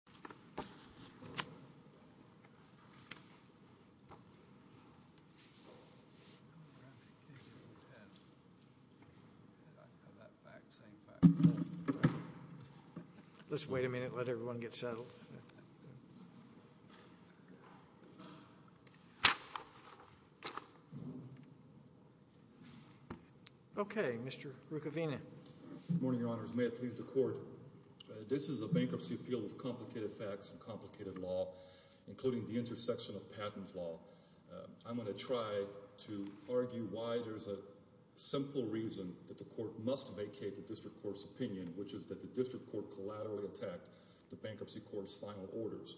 Mr. Ruccovino, I am pleased to report that this is a bankruptcy appeal of complicated facts and complicated law, including the intersection of patent law. I am going to try to argue why there is a simple reason that the Court must vacate the District Court's opinion, which is that the District Court collaterally attacked the Bankruptcy Court's final orders.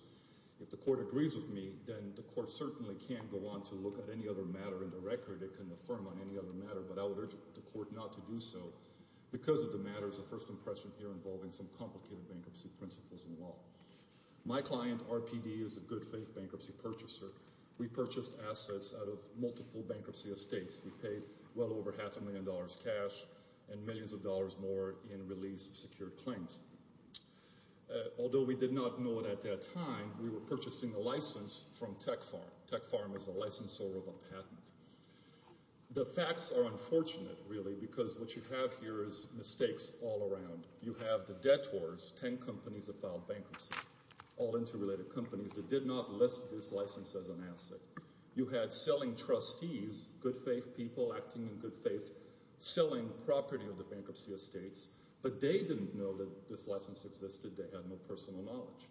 If the Court agrees with me, then the Court certainly can go on to look at any other matter in the record. It can affirm on any other matter, but I would urge the Court not to do so because of the My client, RPD, is a good-faith bankruptcy purchaser. We purchased assets out of multiple bankruptcy estates. We paid well over half a million dollars cash and millions of dollars more in release of secured claims. Although we did not know it at that time, we were purchasing a license from Tech Pharm. Tech Pharm is a licensor of a patent. The facts are unfortunate, really, because what you have here is mistakes all around. You have the debtors, 10 companies that filed bankruptcy, all interrelated companies that did not list this license as an asset. You had selling trustees, good-faith people acting in good faith, selling property of the bankruptcy estates, but they didn't know that this license existed. They had no personal knowledge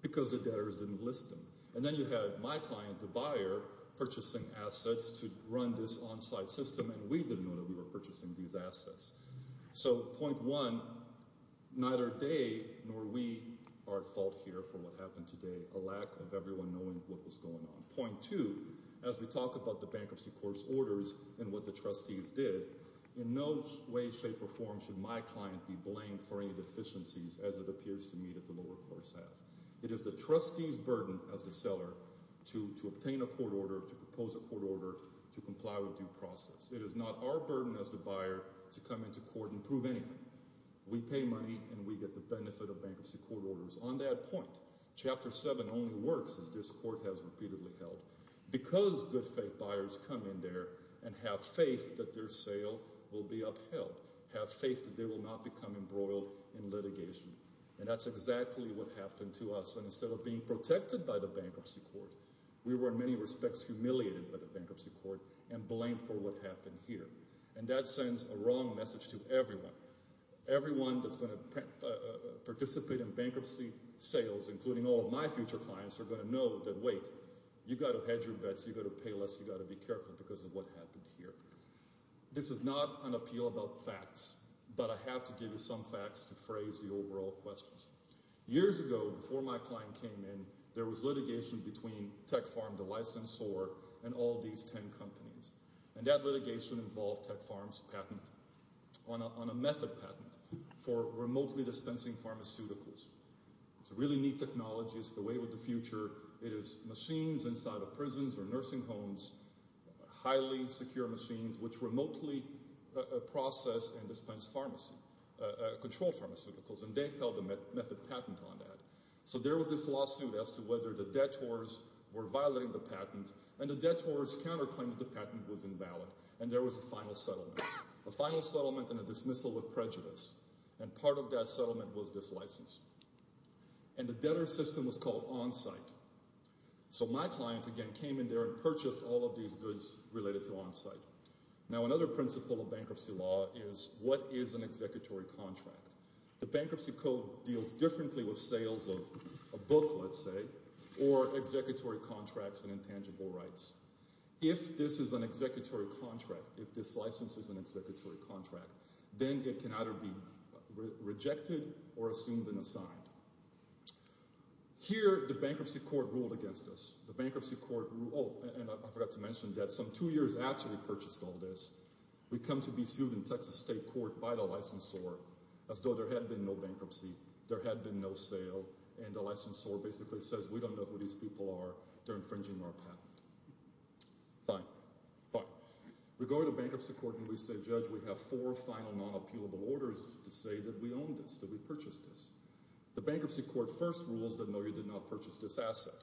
because the debtors didn't list them. And then you had my client, the buyer, purchasing assets to run this onsite system, and we didn't know that we were purchasing these assets. So, point one, neither they nor we are at fault here for what happened today, a lack of everyone knowing what was going on. Point two, as we talk about the bankruptcy court's orders and what the trustees did, in no way, shape, or form should my client be blamed for any deficiencies, as it appears to me that the lower courts have. It is the trustees' burden as the seller to obtain a court order, to propose a court order, to comply with due process. It is not our burden as the buyer to come into court and prove anything. We pay money, and we get the benefit of bankruptcy court orders. On that point, Chapter 7 only works, as this court has repeatedly held, because good-faith buyers come in there and have faith that their sale will be upheld, have faith that they will not become embroiled in litigation. And that's exactly what happened to us, and instead of being protected by the bankruptcy court, we were, in many respects, humiliated by the bankruptcy court and blamed for what happened here. And that sends a wrong message to everyone. Everyone that's going to participate in bankruptcy sales, including all of my future clients, are going to know that, wait, you've got to hedge your bets. You've got to pay less. You've got to be careful because of what happened here. This is not an appeal about facts, but I have to give you some facts to phrase the overall questions. Years ago, before my client came in, there was litigation between TechFarm, the licensor, and all these 10 companies. And that litigation involved TechFarm's patent on a method patent for remotely dispensing pharmaceuticals. It's a really neat technology. It's the wave of the future. It is machines inside of prisons or nursing homes, highly secure machines, which remotely process and dispense control pharmaceuticals. And they held a method patent on that. So there was this lawsuit as to whether the debtors were violating the patent, and the debtors counterclaimed that the patent was invalid. And there was a final settlement, a final settlement and a dismissal with prejudice. And part of that settlement was this license. And the debtor system was called onsite. So my client, again, came in there and purchased all of these goods related to onsite. Now another principle of bankruptcy law is what is an executory contract? The bankruptcy code deals differently with sales of a book, let's say, or executory contracts and intangible rights. If this is an executory contract, if this license is an executory contract, then it can either be rejected or assumed and assigned. Here, the bankruptcy court ruled against us. The bankruptcy court ruled, oh, and I forgot to mention that some two years after we purchased all this, we come to be sued in Texas state court by the licensor as though there had been no bankruptcy, there had been no sale, and the licensor basically says, we don't know who these people are, they're infringing our patent. Fine. Fine. We go to the bankruptcy court and we say, judge, we have four final non-appealable orders to say that we own this, that we purchased this. The bankruptcy court first rules that no, you did not purchase this asset.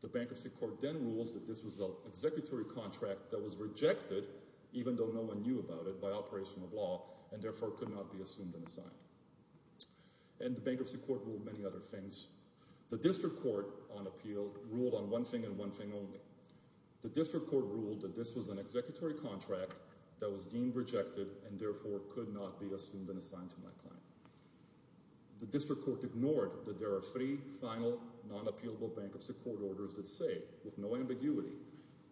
The bankruptcy court then rules that this was an executory contract that was rejected, even though no one knew about it, by operation of law, and therefore could not be assumed and assigned. And the bankruptcy court ruled many other things. The district court on appeal ruled on one thing and one thing only. The district court ruled that this was an executory contract that was deemed rejected and therefore could not be assumed and assigned to my client. The district court ignored that there are three final non-appealable bankruptcy court orders that say, with no ambiguity,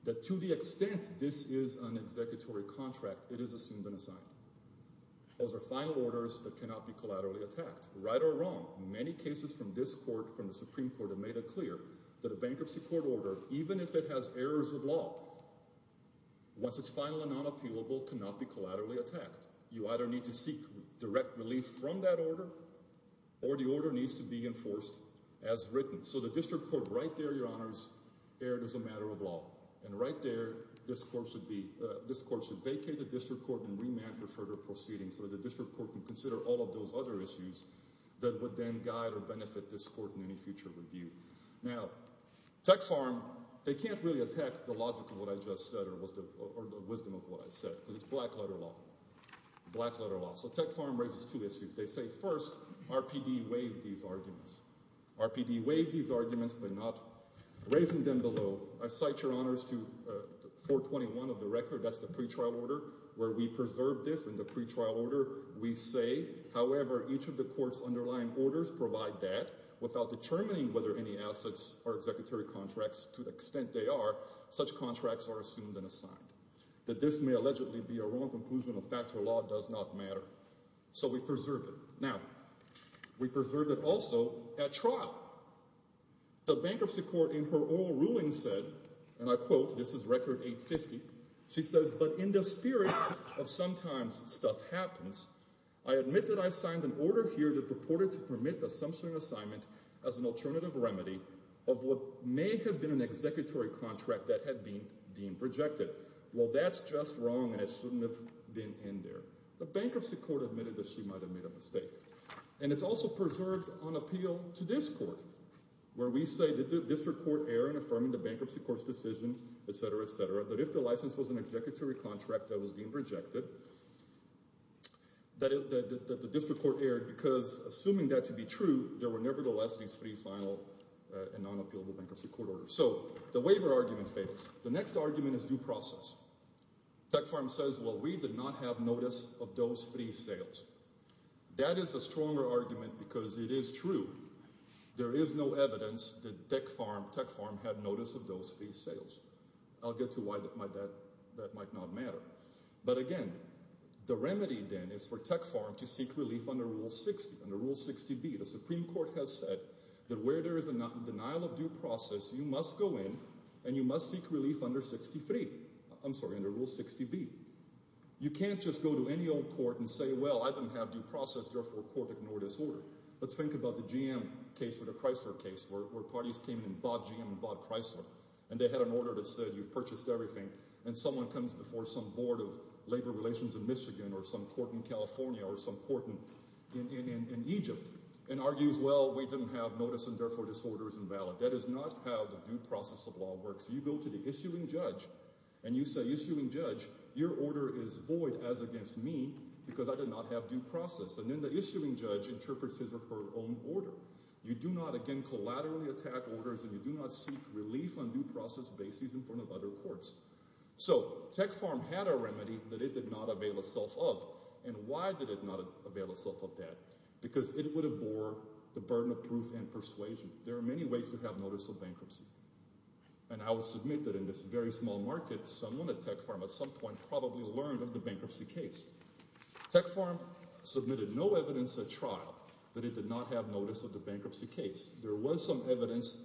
that to the extent this is an executory contract, it is assumed and assigned. Those are final orders that cannot be collaterally attacked. Right or wrong, many cases from this court, from the Supreme Court, have made it clear that a bankruptcy court order, even if it has errors of law, once it's final and non-appealable, cannot be collaterally attacked. You either need to seek direct relief from that order, or the order needs to be enforced as written. So the district court right there, Your Honors, erred as a matter of law. And right there, this court should vacate the district court and remand for further proceedings so that the district court can consider all of those other issues that would then guide or benefit this court in any future review. Now, Tech Farm, they can't really attack the logic of what I just said or the wisdom of what I said, because it's black-letter law. Black-letter law. So Tech Farm raises two issues. They say, first, RPD waived these arguments. RPD waived these arguments, but not raising them below. I cite Your Honors to 421 of the record, that's the pretrial order, where we preserved this in the pretrial order. We say, however, each of the court's underlying orders provide that without determining whether there are any assets or executory contracts, to the extent they are, such contracts are assumed and assigned. That this may allegedly be a wrong conclusion, a fact or law, does not matter. So we preserved it. Now, we preserved it also at trial. The bankruptcy court in her oral ruling said, and I quote, this is Record 850, she says, but in the spirit of sometimes stuff happens, I admit that I signed an order here that purported to permit assumption and assignment as an alternative remedy of what may have been an executory contract that had been deemed rejected. Well, that's just wrong, and it shouldn't have been in there. The bankruptcy court admitted that she might have made a mistake. And it's also preserved on appeal to this court, where we say that the district court erred in affirming the bankruptcy court's decision, et cetera, et cetera, that if the license was an executory contract that was being rejected, that the district court erred because assuming that to be true, there were nevertheless these three final and non-appealable bankruptcy court orders. So the waiver argument fails. The next argument is due process. Tech Farm says, well, we did not have notice of those three sales. That is a stronger argument because it is true. There is no evidence that Tech Farm had notice of those three sales. I'll get to why that might not matter. But again, the remedy then is for Tech Farm to seek relief under Rule 60B. The Supreme Court has said that where there is a denial of due process, you must go in and you must seek relief under 63. I'm sorry, under Rule 60B. You can't just go to any old court and say, well, I didn't have due process, therefore court ignored this order. Let's think about the GM case or the Chrysler case where parties came in and bought GM and bought Chrysler, and they had an order that said you've purchased everything, and someone comes before some board of labor relations in Michigan or some court in California or some court in Egypt and argues, well, we didn't have notice, and therefore this order is invalid. That is not how the due process of law works. You go to the issuing judge and you say, issuing judge, your order is void as against me because I did not have due process. And then the issuing judge interprets his or her own order. You do not, again, collaterally attack orders, and you do not seek relief on due process bases in front of other courts. So Tech Farm had a remedy that it did not avail itself of, and why did it not avail itself of that? Because it would have bore the burden of proof and persuasion. There are many ways to have notice of bankruptcy, and I will submit that in this very small market, someone at Tech Farm at some point probably learned of the bankruptcy case. Tech Farm submitted no evidence at trial that it did not have notice of the bankruptcy case. There was some evidence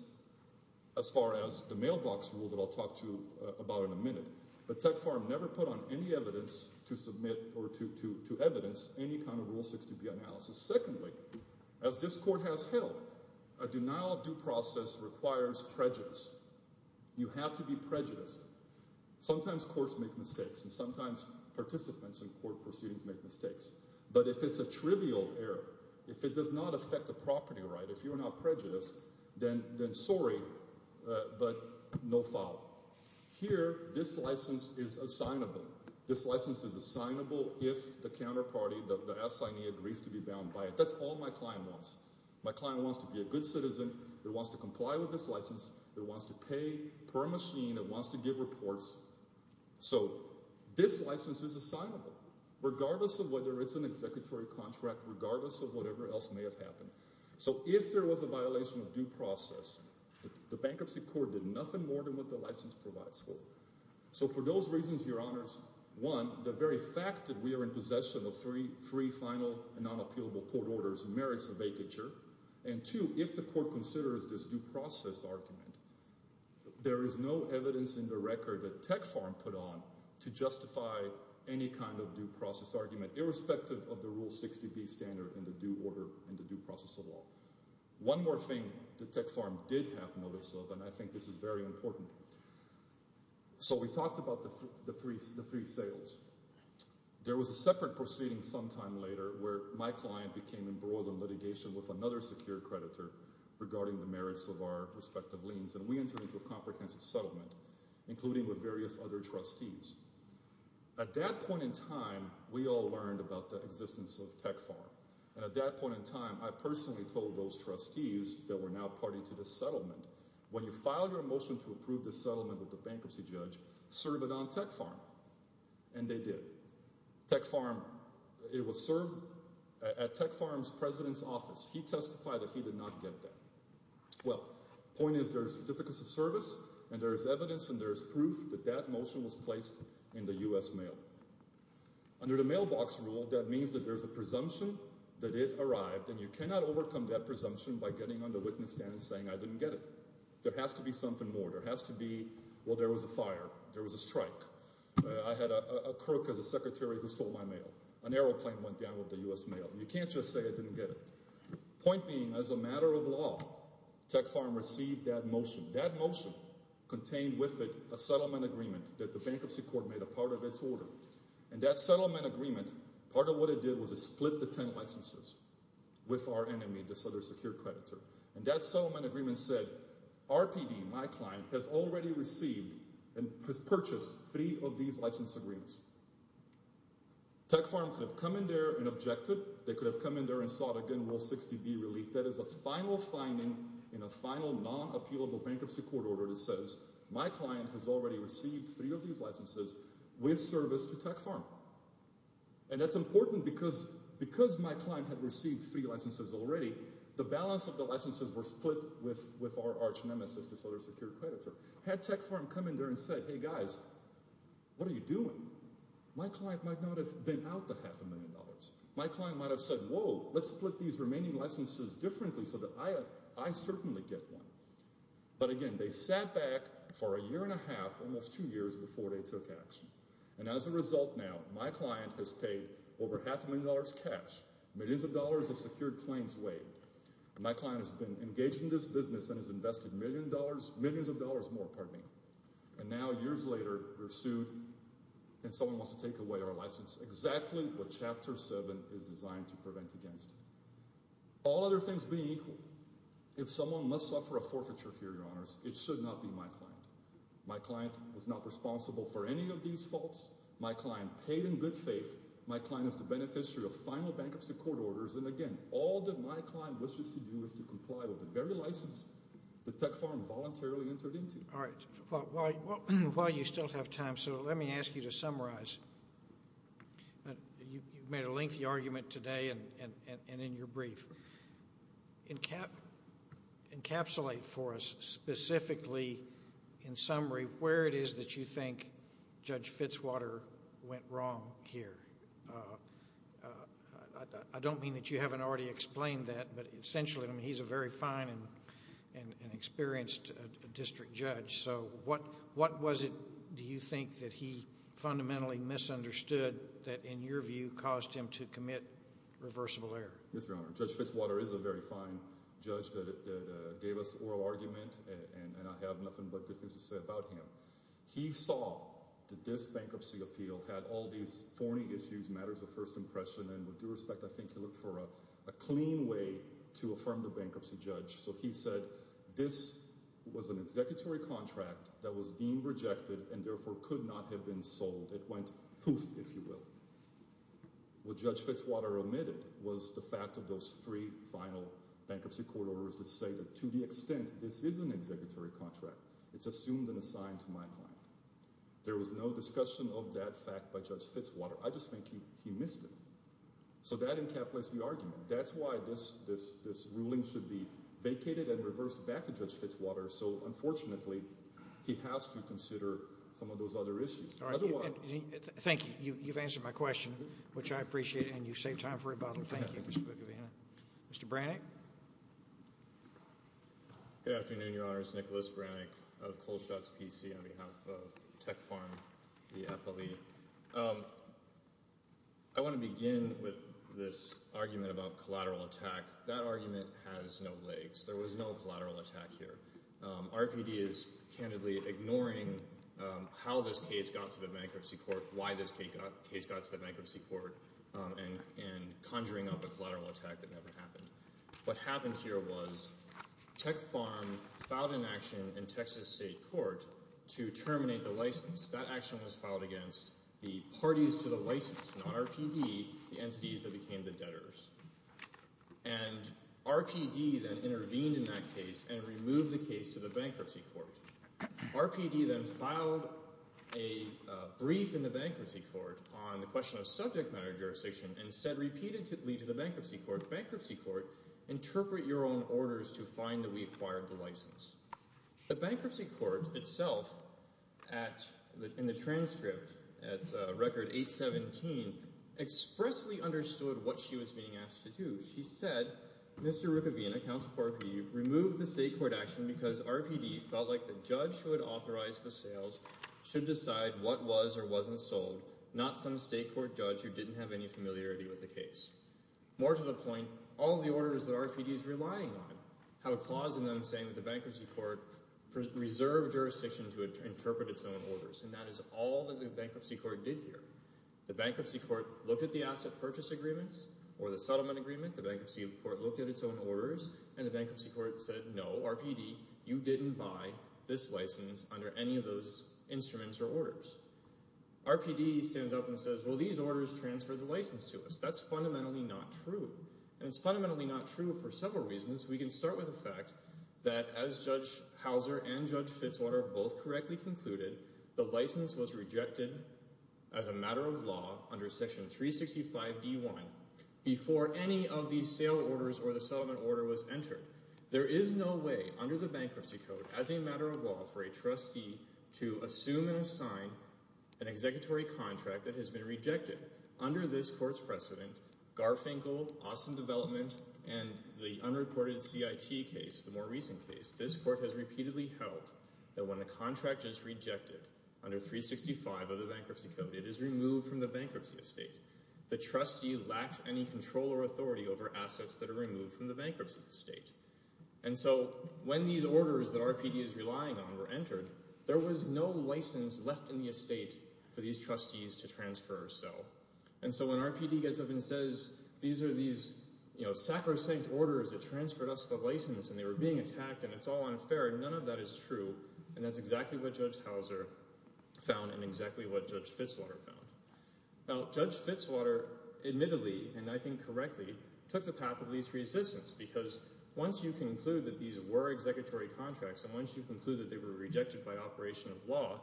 as far as the mailbox rule that I'll talk to about in a minute, but Tech Farm never put on any evidence to submit or to evidence any kind of Rule 60B analysis. Secondly, as this court has held, a denial of due process requires prejudice. You have to be prejudiced. Sometimes courts make mistakes, and sometimes participants in court proceedings make mistakes, but if it's a trivial error, if it does not affect the property right, if you are not prejudiced, then sorry, but no foul. Here, this license is assignable. This license is assignable if the counterparty, the assignee, agrees to be bound by it. That's all my client wants. My client wants to be a good citizen. It wants to comply with this license. It wants to pay per machine. It wants to give reports. So this license is assignable, regardless of whether it's an executory contract, regardless of whatever else may have happened. So if there was a violation of due process, the bankruptcy court did nothing more than what the license provides for. So for those reasons, Your Honors, one, the very fact that we are in possession of three final and unappealable court orders merits a vacature, and two, if the court considers this due process argument, there is no evidence in the record that Tech Farm put on to justify any kind of due process argument, irrespective of the Rule 60B standard and the due order and the due process of law. One more thing that Tech Farm did have notice of, and I think this is very important. So we talked about the three sales. There was a separate proceeding sometime later where my client became embroiled in litigation with another secure creditor regarding the merits of our respective liens, and we entered into a comprehensive settlement, including with various other trustees. At that point in time, we all learned about the existence of Tech Farm, and at that point in time, I personally told those trustees that were now party to the settlement, when you file your motion to approve the settlement with the bankruptcy judge, serve it on Tech Farm. And they did. Tech Farm, it was served at Tech Farm's president's office. He testified that he did not get that. Well, point is, there are certificates of service, and there is evidence and there is proof that that motion was placed in the U.S. Mail. Under the mailbox rule, that means that there is a presumption that it arrived, and you cannot overcome that presumption by getting on the witness stand and saying, I didn't get it. There has to be something more. There has to be, well, there was a fire. There was a strike. I had a crook as a secretary who stole my mail. An airplane went down with the U.S. Mail. You can't just say I didn't get it. Point being, as a matter of law, Tech Farm received that motion. That motion contained with it a settlement agreement that the bankruptcy court made a part of its order. And that settlement agreement, part of what it did was it split the 10 licenses with our enemy, this other secure creditor. And that settlement agreement said, RPD, my client, has already received and has purchased three of these license agreements. Tech Farm could have come in there and objected. They could have come in there and sought again rule 60B relief. That is a final finding in a final non-appealable bankruptcy court order that says, my client has already received three of these licenses with service to Tech Farm. And that's important because my client had received three licenses already. The balance of the licenses were split with our arch nemesis, this other secure creditor. Had Tech Farm come in there and said, hey, guys, what are you doing? My client might not have been out the half a million dollars. My client might have said, whoa, let's split these remaining licenses differently so that I certainly get one. But again, they sat back for a year and a half, almost two years, before they took action. And as a result now, my client has paid over half a million dollars cash, millions of dollars of secured claims waived. My client has been engaged in this business and has invested millions of dollars more. And now years later, we're sued and someone wants to take away our license. Exactly what Chapter 7 is designed to prevent against. All other things being, if someone must suffer a forfeiture here, Your Honors, it should not be my client. My client was not responsible for any of these faults. My client paid in good faith. My client is the beneficiary of final bankruptcy court orders. And again, all that my client wishes to do is to comply with the very license that Tech Farm voluntarily entered into. All right. While you still have time, so let me ask you to summarize. You've made a lengthy argument today and in your brief. Encapsulate for us specifically, in summary, where it is that you think Judge Fitzwater went wrong here. I don't mean that you haven't already explained that, but essentially, he's a very fine and experienced district judge. So what was it, do you think, that he fundamentally misunderstood that, in your view, caused him to commit reversible error? Yes, Your Honor. Judge Fitzwater is a very fine judge that gave us oral argument, and I have nothing but good things to say about him. He saw that this bankruptcy appeal had all these thorny issues, matters of first impression, and with due respect, I think he looked for a clean way to affirm the bankruptcy judge. So he said this was an executory contract that was deemed rejected and therefore could not have been sold. It went poof, if you will. What Judge Fitzwater omitted was the fact of those three final bankruptcy court orders that say that to the extent this is an executory contract, it's assumed and assigned to my client. There was no discussion of that fact by Judge Fitzwater. I just think he missed it. So that encapsulates the argument. That's why this ruling should be vacated and reversed back to Judge Fitzwater. So, unfortunately, he has to consider some of those other issues. Thank you. You've answered my question, which I appreciate, and you saved time for rebuttal. Thank you, Mr. Bukovina. Mr. Brannick. Good afternoon, Your Honors. Nicholas Brannick of Kohlschatz PC on behalf of Tech Farm, the FLE. I want to begin with this argument about collateral attack. That argument has no legs. There was no collateral attack here. RPD is candidly ignoring how this case got to the bankruptcy court, why this case got to the bankruptcy court, and conjuring up a collateral attack that never happened. What happened here was Tech Farm filed an action in Texas State Court to terminate the license. That action was filed against the parties to the license, not RPD, the entities that became the debtors. And RPD then intervened in that case and removed the case to the bankruptcy court. RPD then filed a brief in the bankruptcy court on the question of subject matter jurisdiction and said repeatedly to the bankruptcy court, bankruptcy court, interpret your own orders to find that we acquired the license. The bankruptcy court itself in the transcript at Record 817 expressly understood what she was being asked to do. She said, Mr. Rukavina, counsel for RPD, removed the state court action because RPD felt like the judge who had authorized the sales should decide what was or wasn't sold, not some state court judge who didn't have any familiarity with the case. More to the point, all the orders that RPD is relying on have a clause in them saying that the bankruptcy court reserved jurisdiction to interpret its own orders, and that is all that the bankruptcy court did here. The bankruptcy court looked at the asset purchase agreements or the settlement agreement. The bankruptcy court looked at its own orders, and the bankruptcy court said, no, RPD, you didn't buy this license under any of those instruments or orders. RPD stands up and says, well, these orders transferred the license to us. That's fundamentally not true, and it's fundamentally not true for several reasons. We can start with the fact that as Judge Hauser and Judge Fitzwater both correctly concluded, the license was rejected as a matter of law under Section 365d.1 before any of these sale orders or the settlement order was entered. There is no way under the bankruptcy code as a matter of law for a trustee to assume and assign an executory contract that has been rejected. Under this court's precedent, Garfinkel, Austin Development, and the unreported CIT case, the more recent case, this court has repeatedly held that when a contract is rejected under 365 of the bankruptcy code, it is removed from the bankruptcy estate. The trustee lacks any control or authority over assets that are removed from the bankruptcy estate. And so when these orders that RPD is relying on were entered, there was no license left in the estate for these trustees to transfer or sell. And so when RPD gets up and says these are these sacrosanct orders that transferred us the license and they were being attacked and it's all unfair, none of that is true. And that's exactly what Judge Hauser found and exactly what Judge Fitzwater found. Now, Judge Fitzwater admittedly, and I think correctly, took the path of least resistance because once you conclude that these were executory contracts and once you conclude that they were rejected by operation of law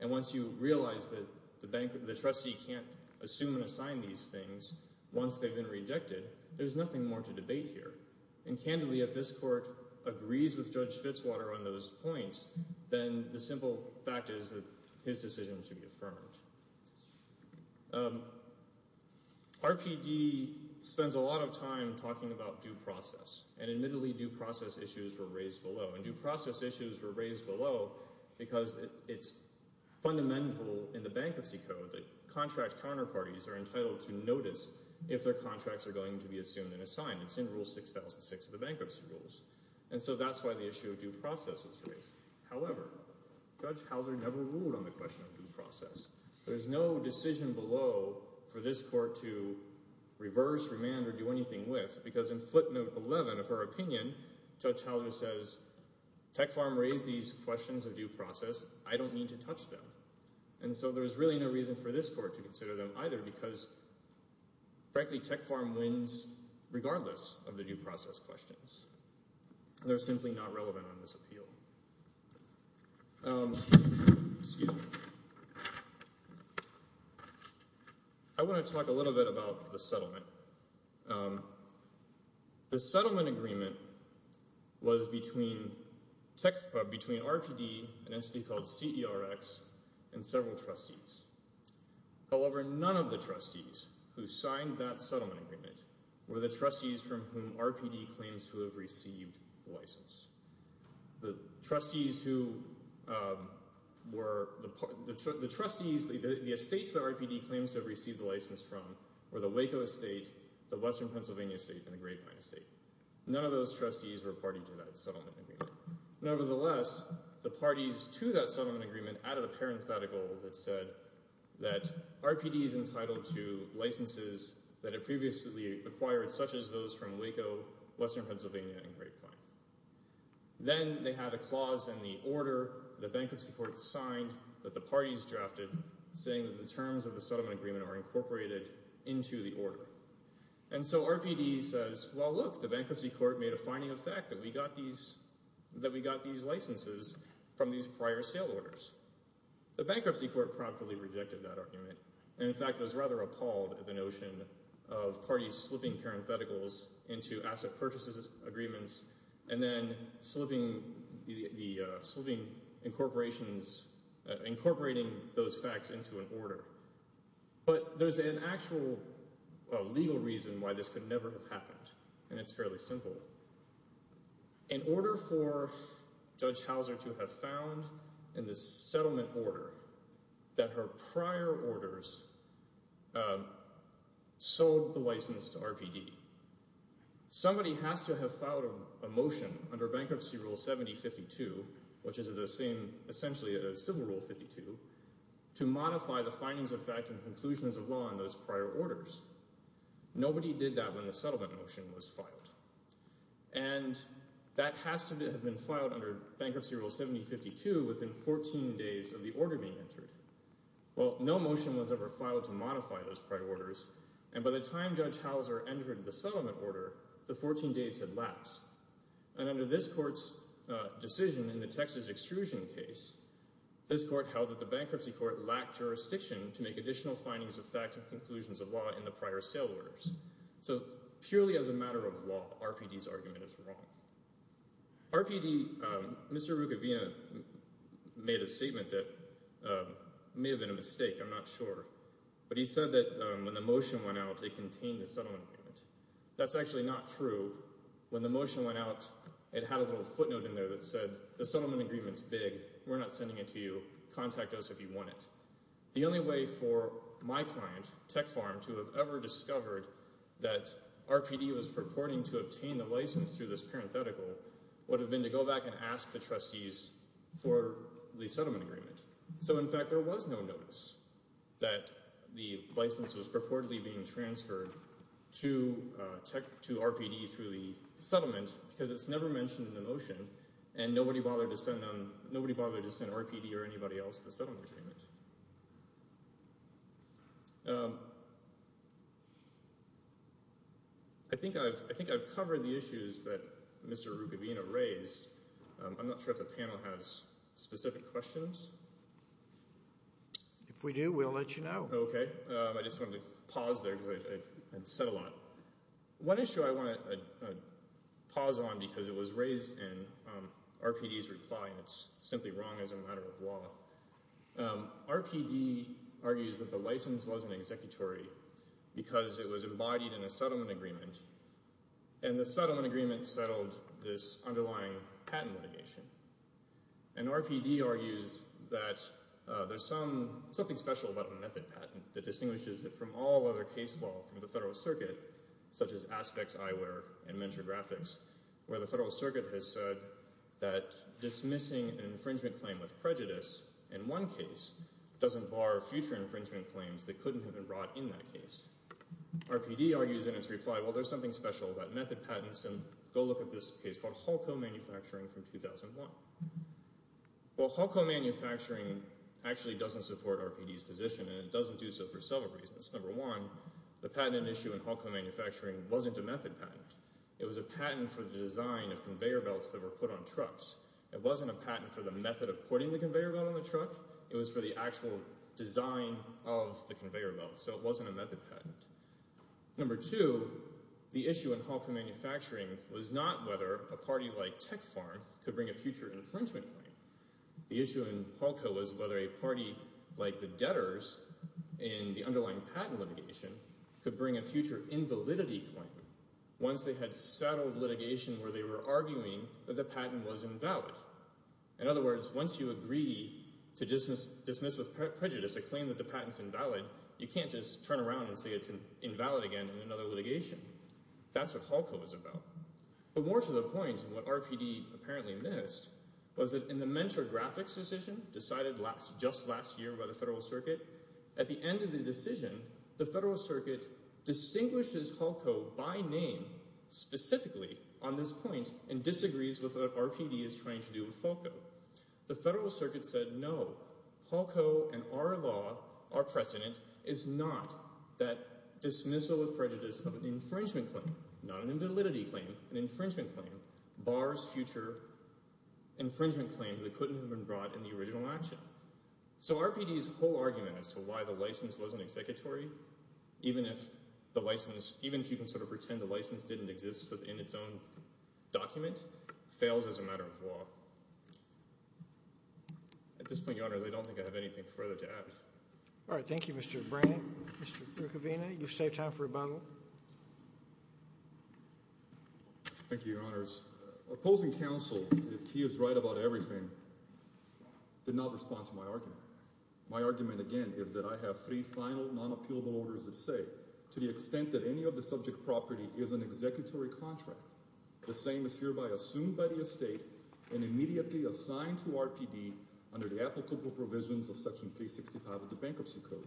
and once you realize that the trustee can't assume and assign these things once they've been rejected, there's nothing more to debate here. And candidly, if this court agrees with Judge Fitzwater on those points, then the simple fact is that his decision should be affirmed. RPD spends a lot of time talking about due process. And admittedly, due process issues were raised below. And due process issues were raised below because it's fundamental in the bankruptcy code that contract counterparties are entitled to notice if their contracts are going to be assumed and assigned. It's in Rule 6006 of the Bankruptcy Rules. And so that's why the issue of due process was raised. However, Judge Hauser never ruled on the question of due process. There's no decision below for this court to reverse, remand, or do anything with because in footnote 11 of her opinion, Judge Hauser says, Tech Farm raised these questions of due process. I don't need to touch them. And so there's really no reason for this court to consider them either because frankly Tech Farm wins regardless of the due process questions. They're simply not relevant on this appeal. Excuse me. I want to talk a little bit about the settlement. The settlement agreement was between RPD, an entity called CERX, and several trustees. However, none of the trustees who signed that settlement agreement were the trustees from whom RPD claims to have received the license. The trustees who were—the trustees, the estates that RPD claims to have received the license from were the Waco Estate, the Western Pennsylvania Estate, and the Grapevine Estate. None of those trustees were party to that settlement agreement. Nevertheless, the parties to that settlement agreement added a parenthetical that said that RPD is entitled to licenses that it previously acquired, such as those from Waco, Western Pennsylvania, and Grapevine. Then they had a clause in the order the bankruptcy court signed that the parties drafted saying that the terms of the settlement agreement are incorporated into the order. And so RPD says, well, look, the bankruptcy court made a fining effect that we got these licenses from these prior sale orders. The bankruptcy court promptly rejected that argument. In fact, it was rather appalled at the notion of parties slipping parentheticals into asset purchases agreements and then slipping incorporations— incorporating those facts into an order. But there's an actual legal reason why this could never have happened, and it's fairly simple. In order for Judge Hauser to have found in the settlement order that her prior orders sold the license to RPD, somebody has to have filed a motion under Bankruptcy Rule 7052, which is essentially a Civil Rule 52, to modify the findings of fact and conclusions of law in those prior orders. Nobody did that when the settlement motion was filed. And that has to have been filed under Bankruptcy Rule 7052 within 14 days of the order being entered. Well, no motion was ever filed to modify those prior orders, and by the time Judge Hauser entered the settlement order, the 14 days had lapsed. And under this court's decision in the Texas extrusion case, this court held that the bankruptcy court lacked jurisdiction to make additional findings of fact and conclusions of law in the prior sale orders. So purely as a matter of law, RPD's argument is wrong. RPD—Mr. Rucavina made a statement that may have been a mistake, I'm not sure, but he said that when the motion went out, it contained the settlement agreement. That's actually not true. When the motion went out, it had a little footnote in there that said, the settlement agreement's big, we're not sending it to you, contact us if you want it. The only way for my client, Tech Farm, to have ever discovered that RPD was purporting to obtain the license through this parenthetical would have been to go back and ask the trustees for the settlement agreement. So, in fact, there was no notice that the license was purportedly being transferred to RPD through the settlement because it's never mentioned in the motion, and nobody bothered to send RPD or anybody else the settlement agreement. I think I've covered the issues that Mr. Rucavina raised. I'm not sure if the panel has specific questions. If we do, we'll let you know. Okay. I just wanted to pause there because I've said a lot. One issue I want to pause on because it was raised in RPD's reply, and it's simply wrong as a matter of law. RPD argues that the license wasn't executory because it was embodied in a settlement agreement, and the settlement agreement settled this underlying patent litigation. And RPD argues that there's something special about a method patent that distinguishes it from all other case law from the Federal Circuit, such as aspects, eyewear, and mentor graphics, where the Federal Circuit has said that dismissing an infringement claim with prejudice in one case doesn't bar future infringement claims that couldn't have been brought in that case. RPD argues in its reply, well, there's something special about method patents, and go look at this case called Hulco Manufacturing from 2001. Well, Hulco Manufacturing actually doesn't support RPD's position, and it doesn't do so for several reasons. Number one, the patent issue in Hulco Manufacturing wasn't a method patent. It was a patent for the design of conveyor belts that were put on trucks. It wasn't a patent for the method of putting the conveyor belt on the truck. It was for the actual design of the conveyor belt, so it wasn't a method patent. Number two, the issue in Hulco Manufacturing was not whether a party like Tech Farm could bring a future infringement claim. The issue in Hulco was whether a party like the debtors in the underlying patent litigation could bring a future invalidity claim once they had settled litigation where they were arguing that the patent was invalid. In other words, once you agree to dismiss with prejudice a claim that the patent's invalid, you can't just turn around and say it's invalid again in another litigation. That's what Hulco is about. But more to the point, what RPD apparently missed was that in the Mentor Graphics decision decided just last year by the Federal Circuit, at the end of the decision, the Federal Circuit distinguishes Hulco by name specifically on this point and disagrees with what RPD is trying to do with Hulco. The Federal Circuit said no, Hulco and our law, our precedent, is not that dismissal with prejudice of an infringement claim, not an invalidity claim, an infringement claim, bars future infringement claims that couldn't have been brought in the original action. So RPD's whole argument as to why the license wasn't executory, even if you can sort of pretend the license didn't exist within its own document, fails as a matter of law. At this point, Your Honors, I don't think I have anything further to add. All right. Thank you, Mr. Brannon. Mr. Kavina, you've saved time for rebuttal. Thank you, Your Honors. Opposing counsel, if he is right about everything, did not respond to my argument. My argument, again, is that I have three final non-appealable orders that say to the extent that any of the subject property is an executory contract, the same is hereby assumed by the estate and immediately assigned to RPD under the applicable provisions of Section 365 of the Bankruptcy Code,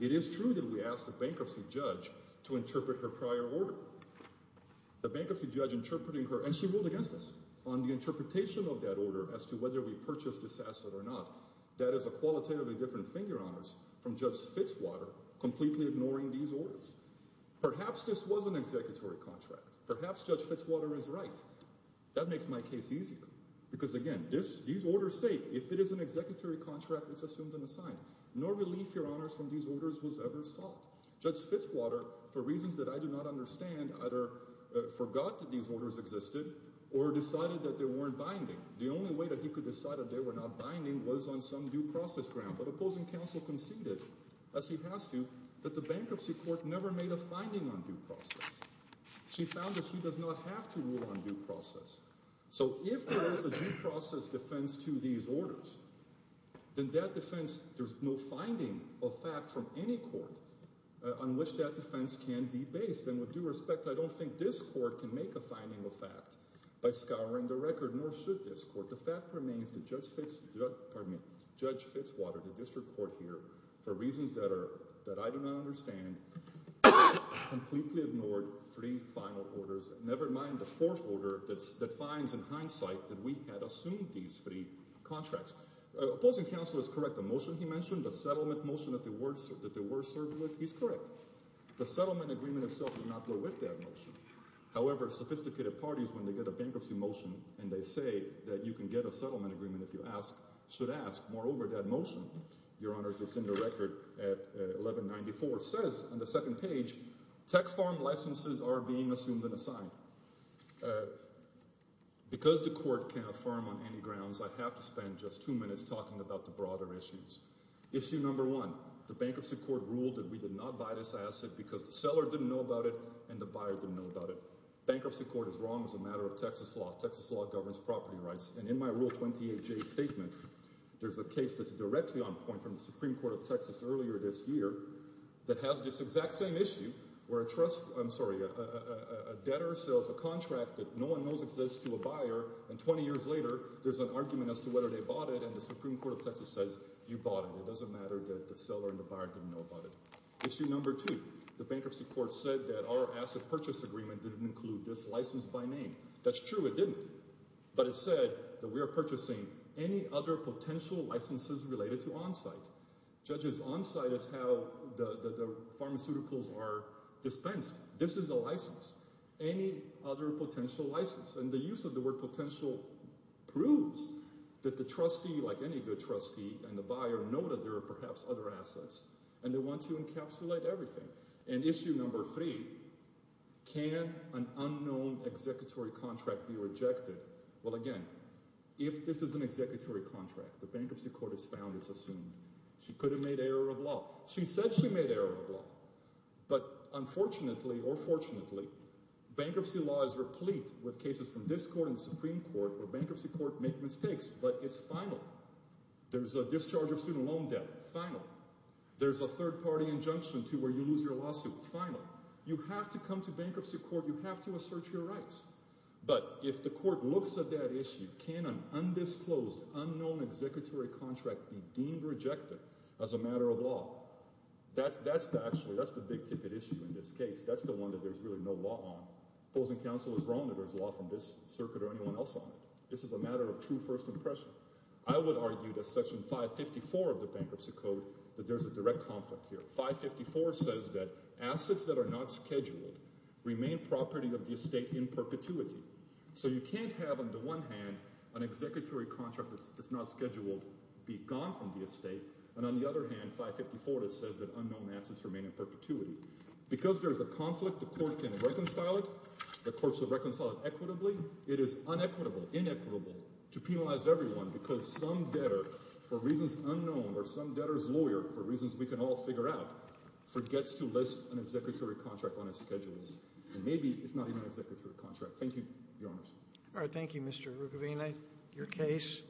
it is true that we asked a bankruptcy judge to interpret her prior order. The bankruptcy judge interpreting her, and she ruled against us, on the interpretation of that order as to whether we purchased this asset or not, that is a qualitatively different thing, Your Honors, from Judge Fitzwater completely ignoring these orders. Perhaps this was an executory contract. Perhaps Judge Fitzwater is right. That makes my case easier. Because, again, these orders say if it is an executory contract, it's assumed and assigned. No relief, Your Honors, from these orders was ever sought. Judge Fitzwater, for reasons that I do not understand, either forgot that these orders existed or decided that they weren't binding. The only way that he could decide that they were not binding was on some due process ground. But opposing counsel conceded, as he has to, that the bankruptcy court never made a finding on due process. She found that she does not have to rule on due process. So if there is a due process defense to these orders, then that defense, there's no finding of fact from any court on which that defense can be based. And with due respect, I don't think this court can make a finding of fact by scouring the record, nor should this court. The fact remains that Judge Fitzwater, the district court here, for reasons that I do not understand, completely ignored three final orders, never mind the fourth order that defines in hindsight that we had assumed these three contracts. Opposing counsel is correct. The motion he mentioned, the settlement motion that they were served with, he's correct. The settlement agreement itself did not go with that motion. However, sophisticated parties, when they get a bankruptcy motion, and they say that you can get a settlement agreement if you ask, should ask. Moreover, that motion, Your Honors, it's in the record at 1194, says on the second page, tech farm licenses are being assumed and assigned. Because the court can't affirm on any grounds, I have to spend just two minutes talking about the broader issues. Issue number one, the bankruptcy court ruled that we did not buy this asset because the seller didn't know about it and the buyer didn't know about it. Bankruptcy court is wrong as a matter of Texas law. Texas law governs property rights. And in my Rule 28J statement, there's a case that's directly on point from the Supreme Court of Texas earlier this year that has this exact same issue where a debtor sells a contract that no one knows exists to a buyer, and 20 years later there's an argument as to whether they bought it, and the Supreme Court of Texas says you bought it. It doesn't matter that the seller and the buyer didn't know about it. Issue number two, the bankruptcy court said that our asset purchase agreement didn't include this license by name. That's true, it didn't. But it said that we are purchasing any other potential licenses related to on-site. Judges, on-site is how the pharmaceuticals are dispensed. This is a license. Any other potential license. And the use of the word potential proves that the trustee, like any good trustee, and the buyer know that there are perhaps other assets, and they want to encapsulate everything. And issue number three, can an unknown executory contract be rejected? Well, again, if this is an executory contract, the bankruptcy court has found it's assumed. She could have made error of law. She said she made error of law, but unfortunately or fortunately, bankruptcy law is replete with cases from this court and the Supreme Court where bankruptcy courts make mistakes, but it's final. There's a discharge of student loan debt, final. There's a third-party injunction to where you lose your lawsuit, final. You have to come to bankruptcy court. You have to assert your rights. But if the court looks at that issue, can an undisclosed, unknown executory contract be deemed rejected as a matter of law? That's the big ticket issue in this case. That's the one that there's really no law on. Opposing counsel is wrong that there's law from this circuit or anyone else on it. This is a matter of true first impression. I would argue that Section 554 of the Bankruptcy Code that there's a direct conflict here. 554 says that assets that are not scheduled remain property of the estate in perpetuity. So you can't have, on the one hand, an executory contract that's not scheduled be gone from the estate, and on the other hand, 554 says that unknown assets remain in perpetuity. Because there's a conflict, the court can reconcile it. The court should reconcile it equitably. It is unequitable, inequitable to penalize everyone because some debtor, for reasons unknown, or some debtor's lawyer, for reasons we can all figure out, forgets to list an executory contract on his schedules. And maybe it's not even an executory contract. Thank you, Your Honors. All right, thank you, Mr. Rucavina. Your case.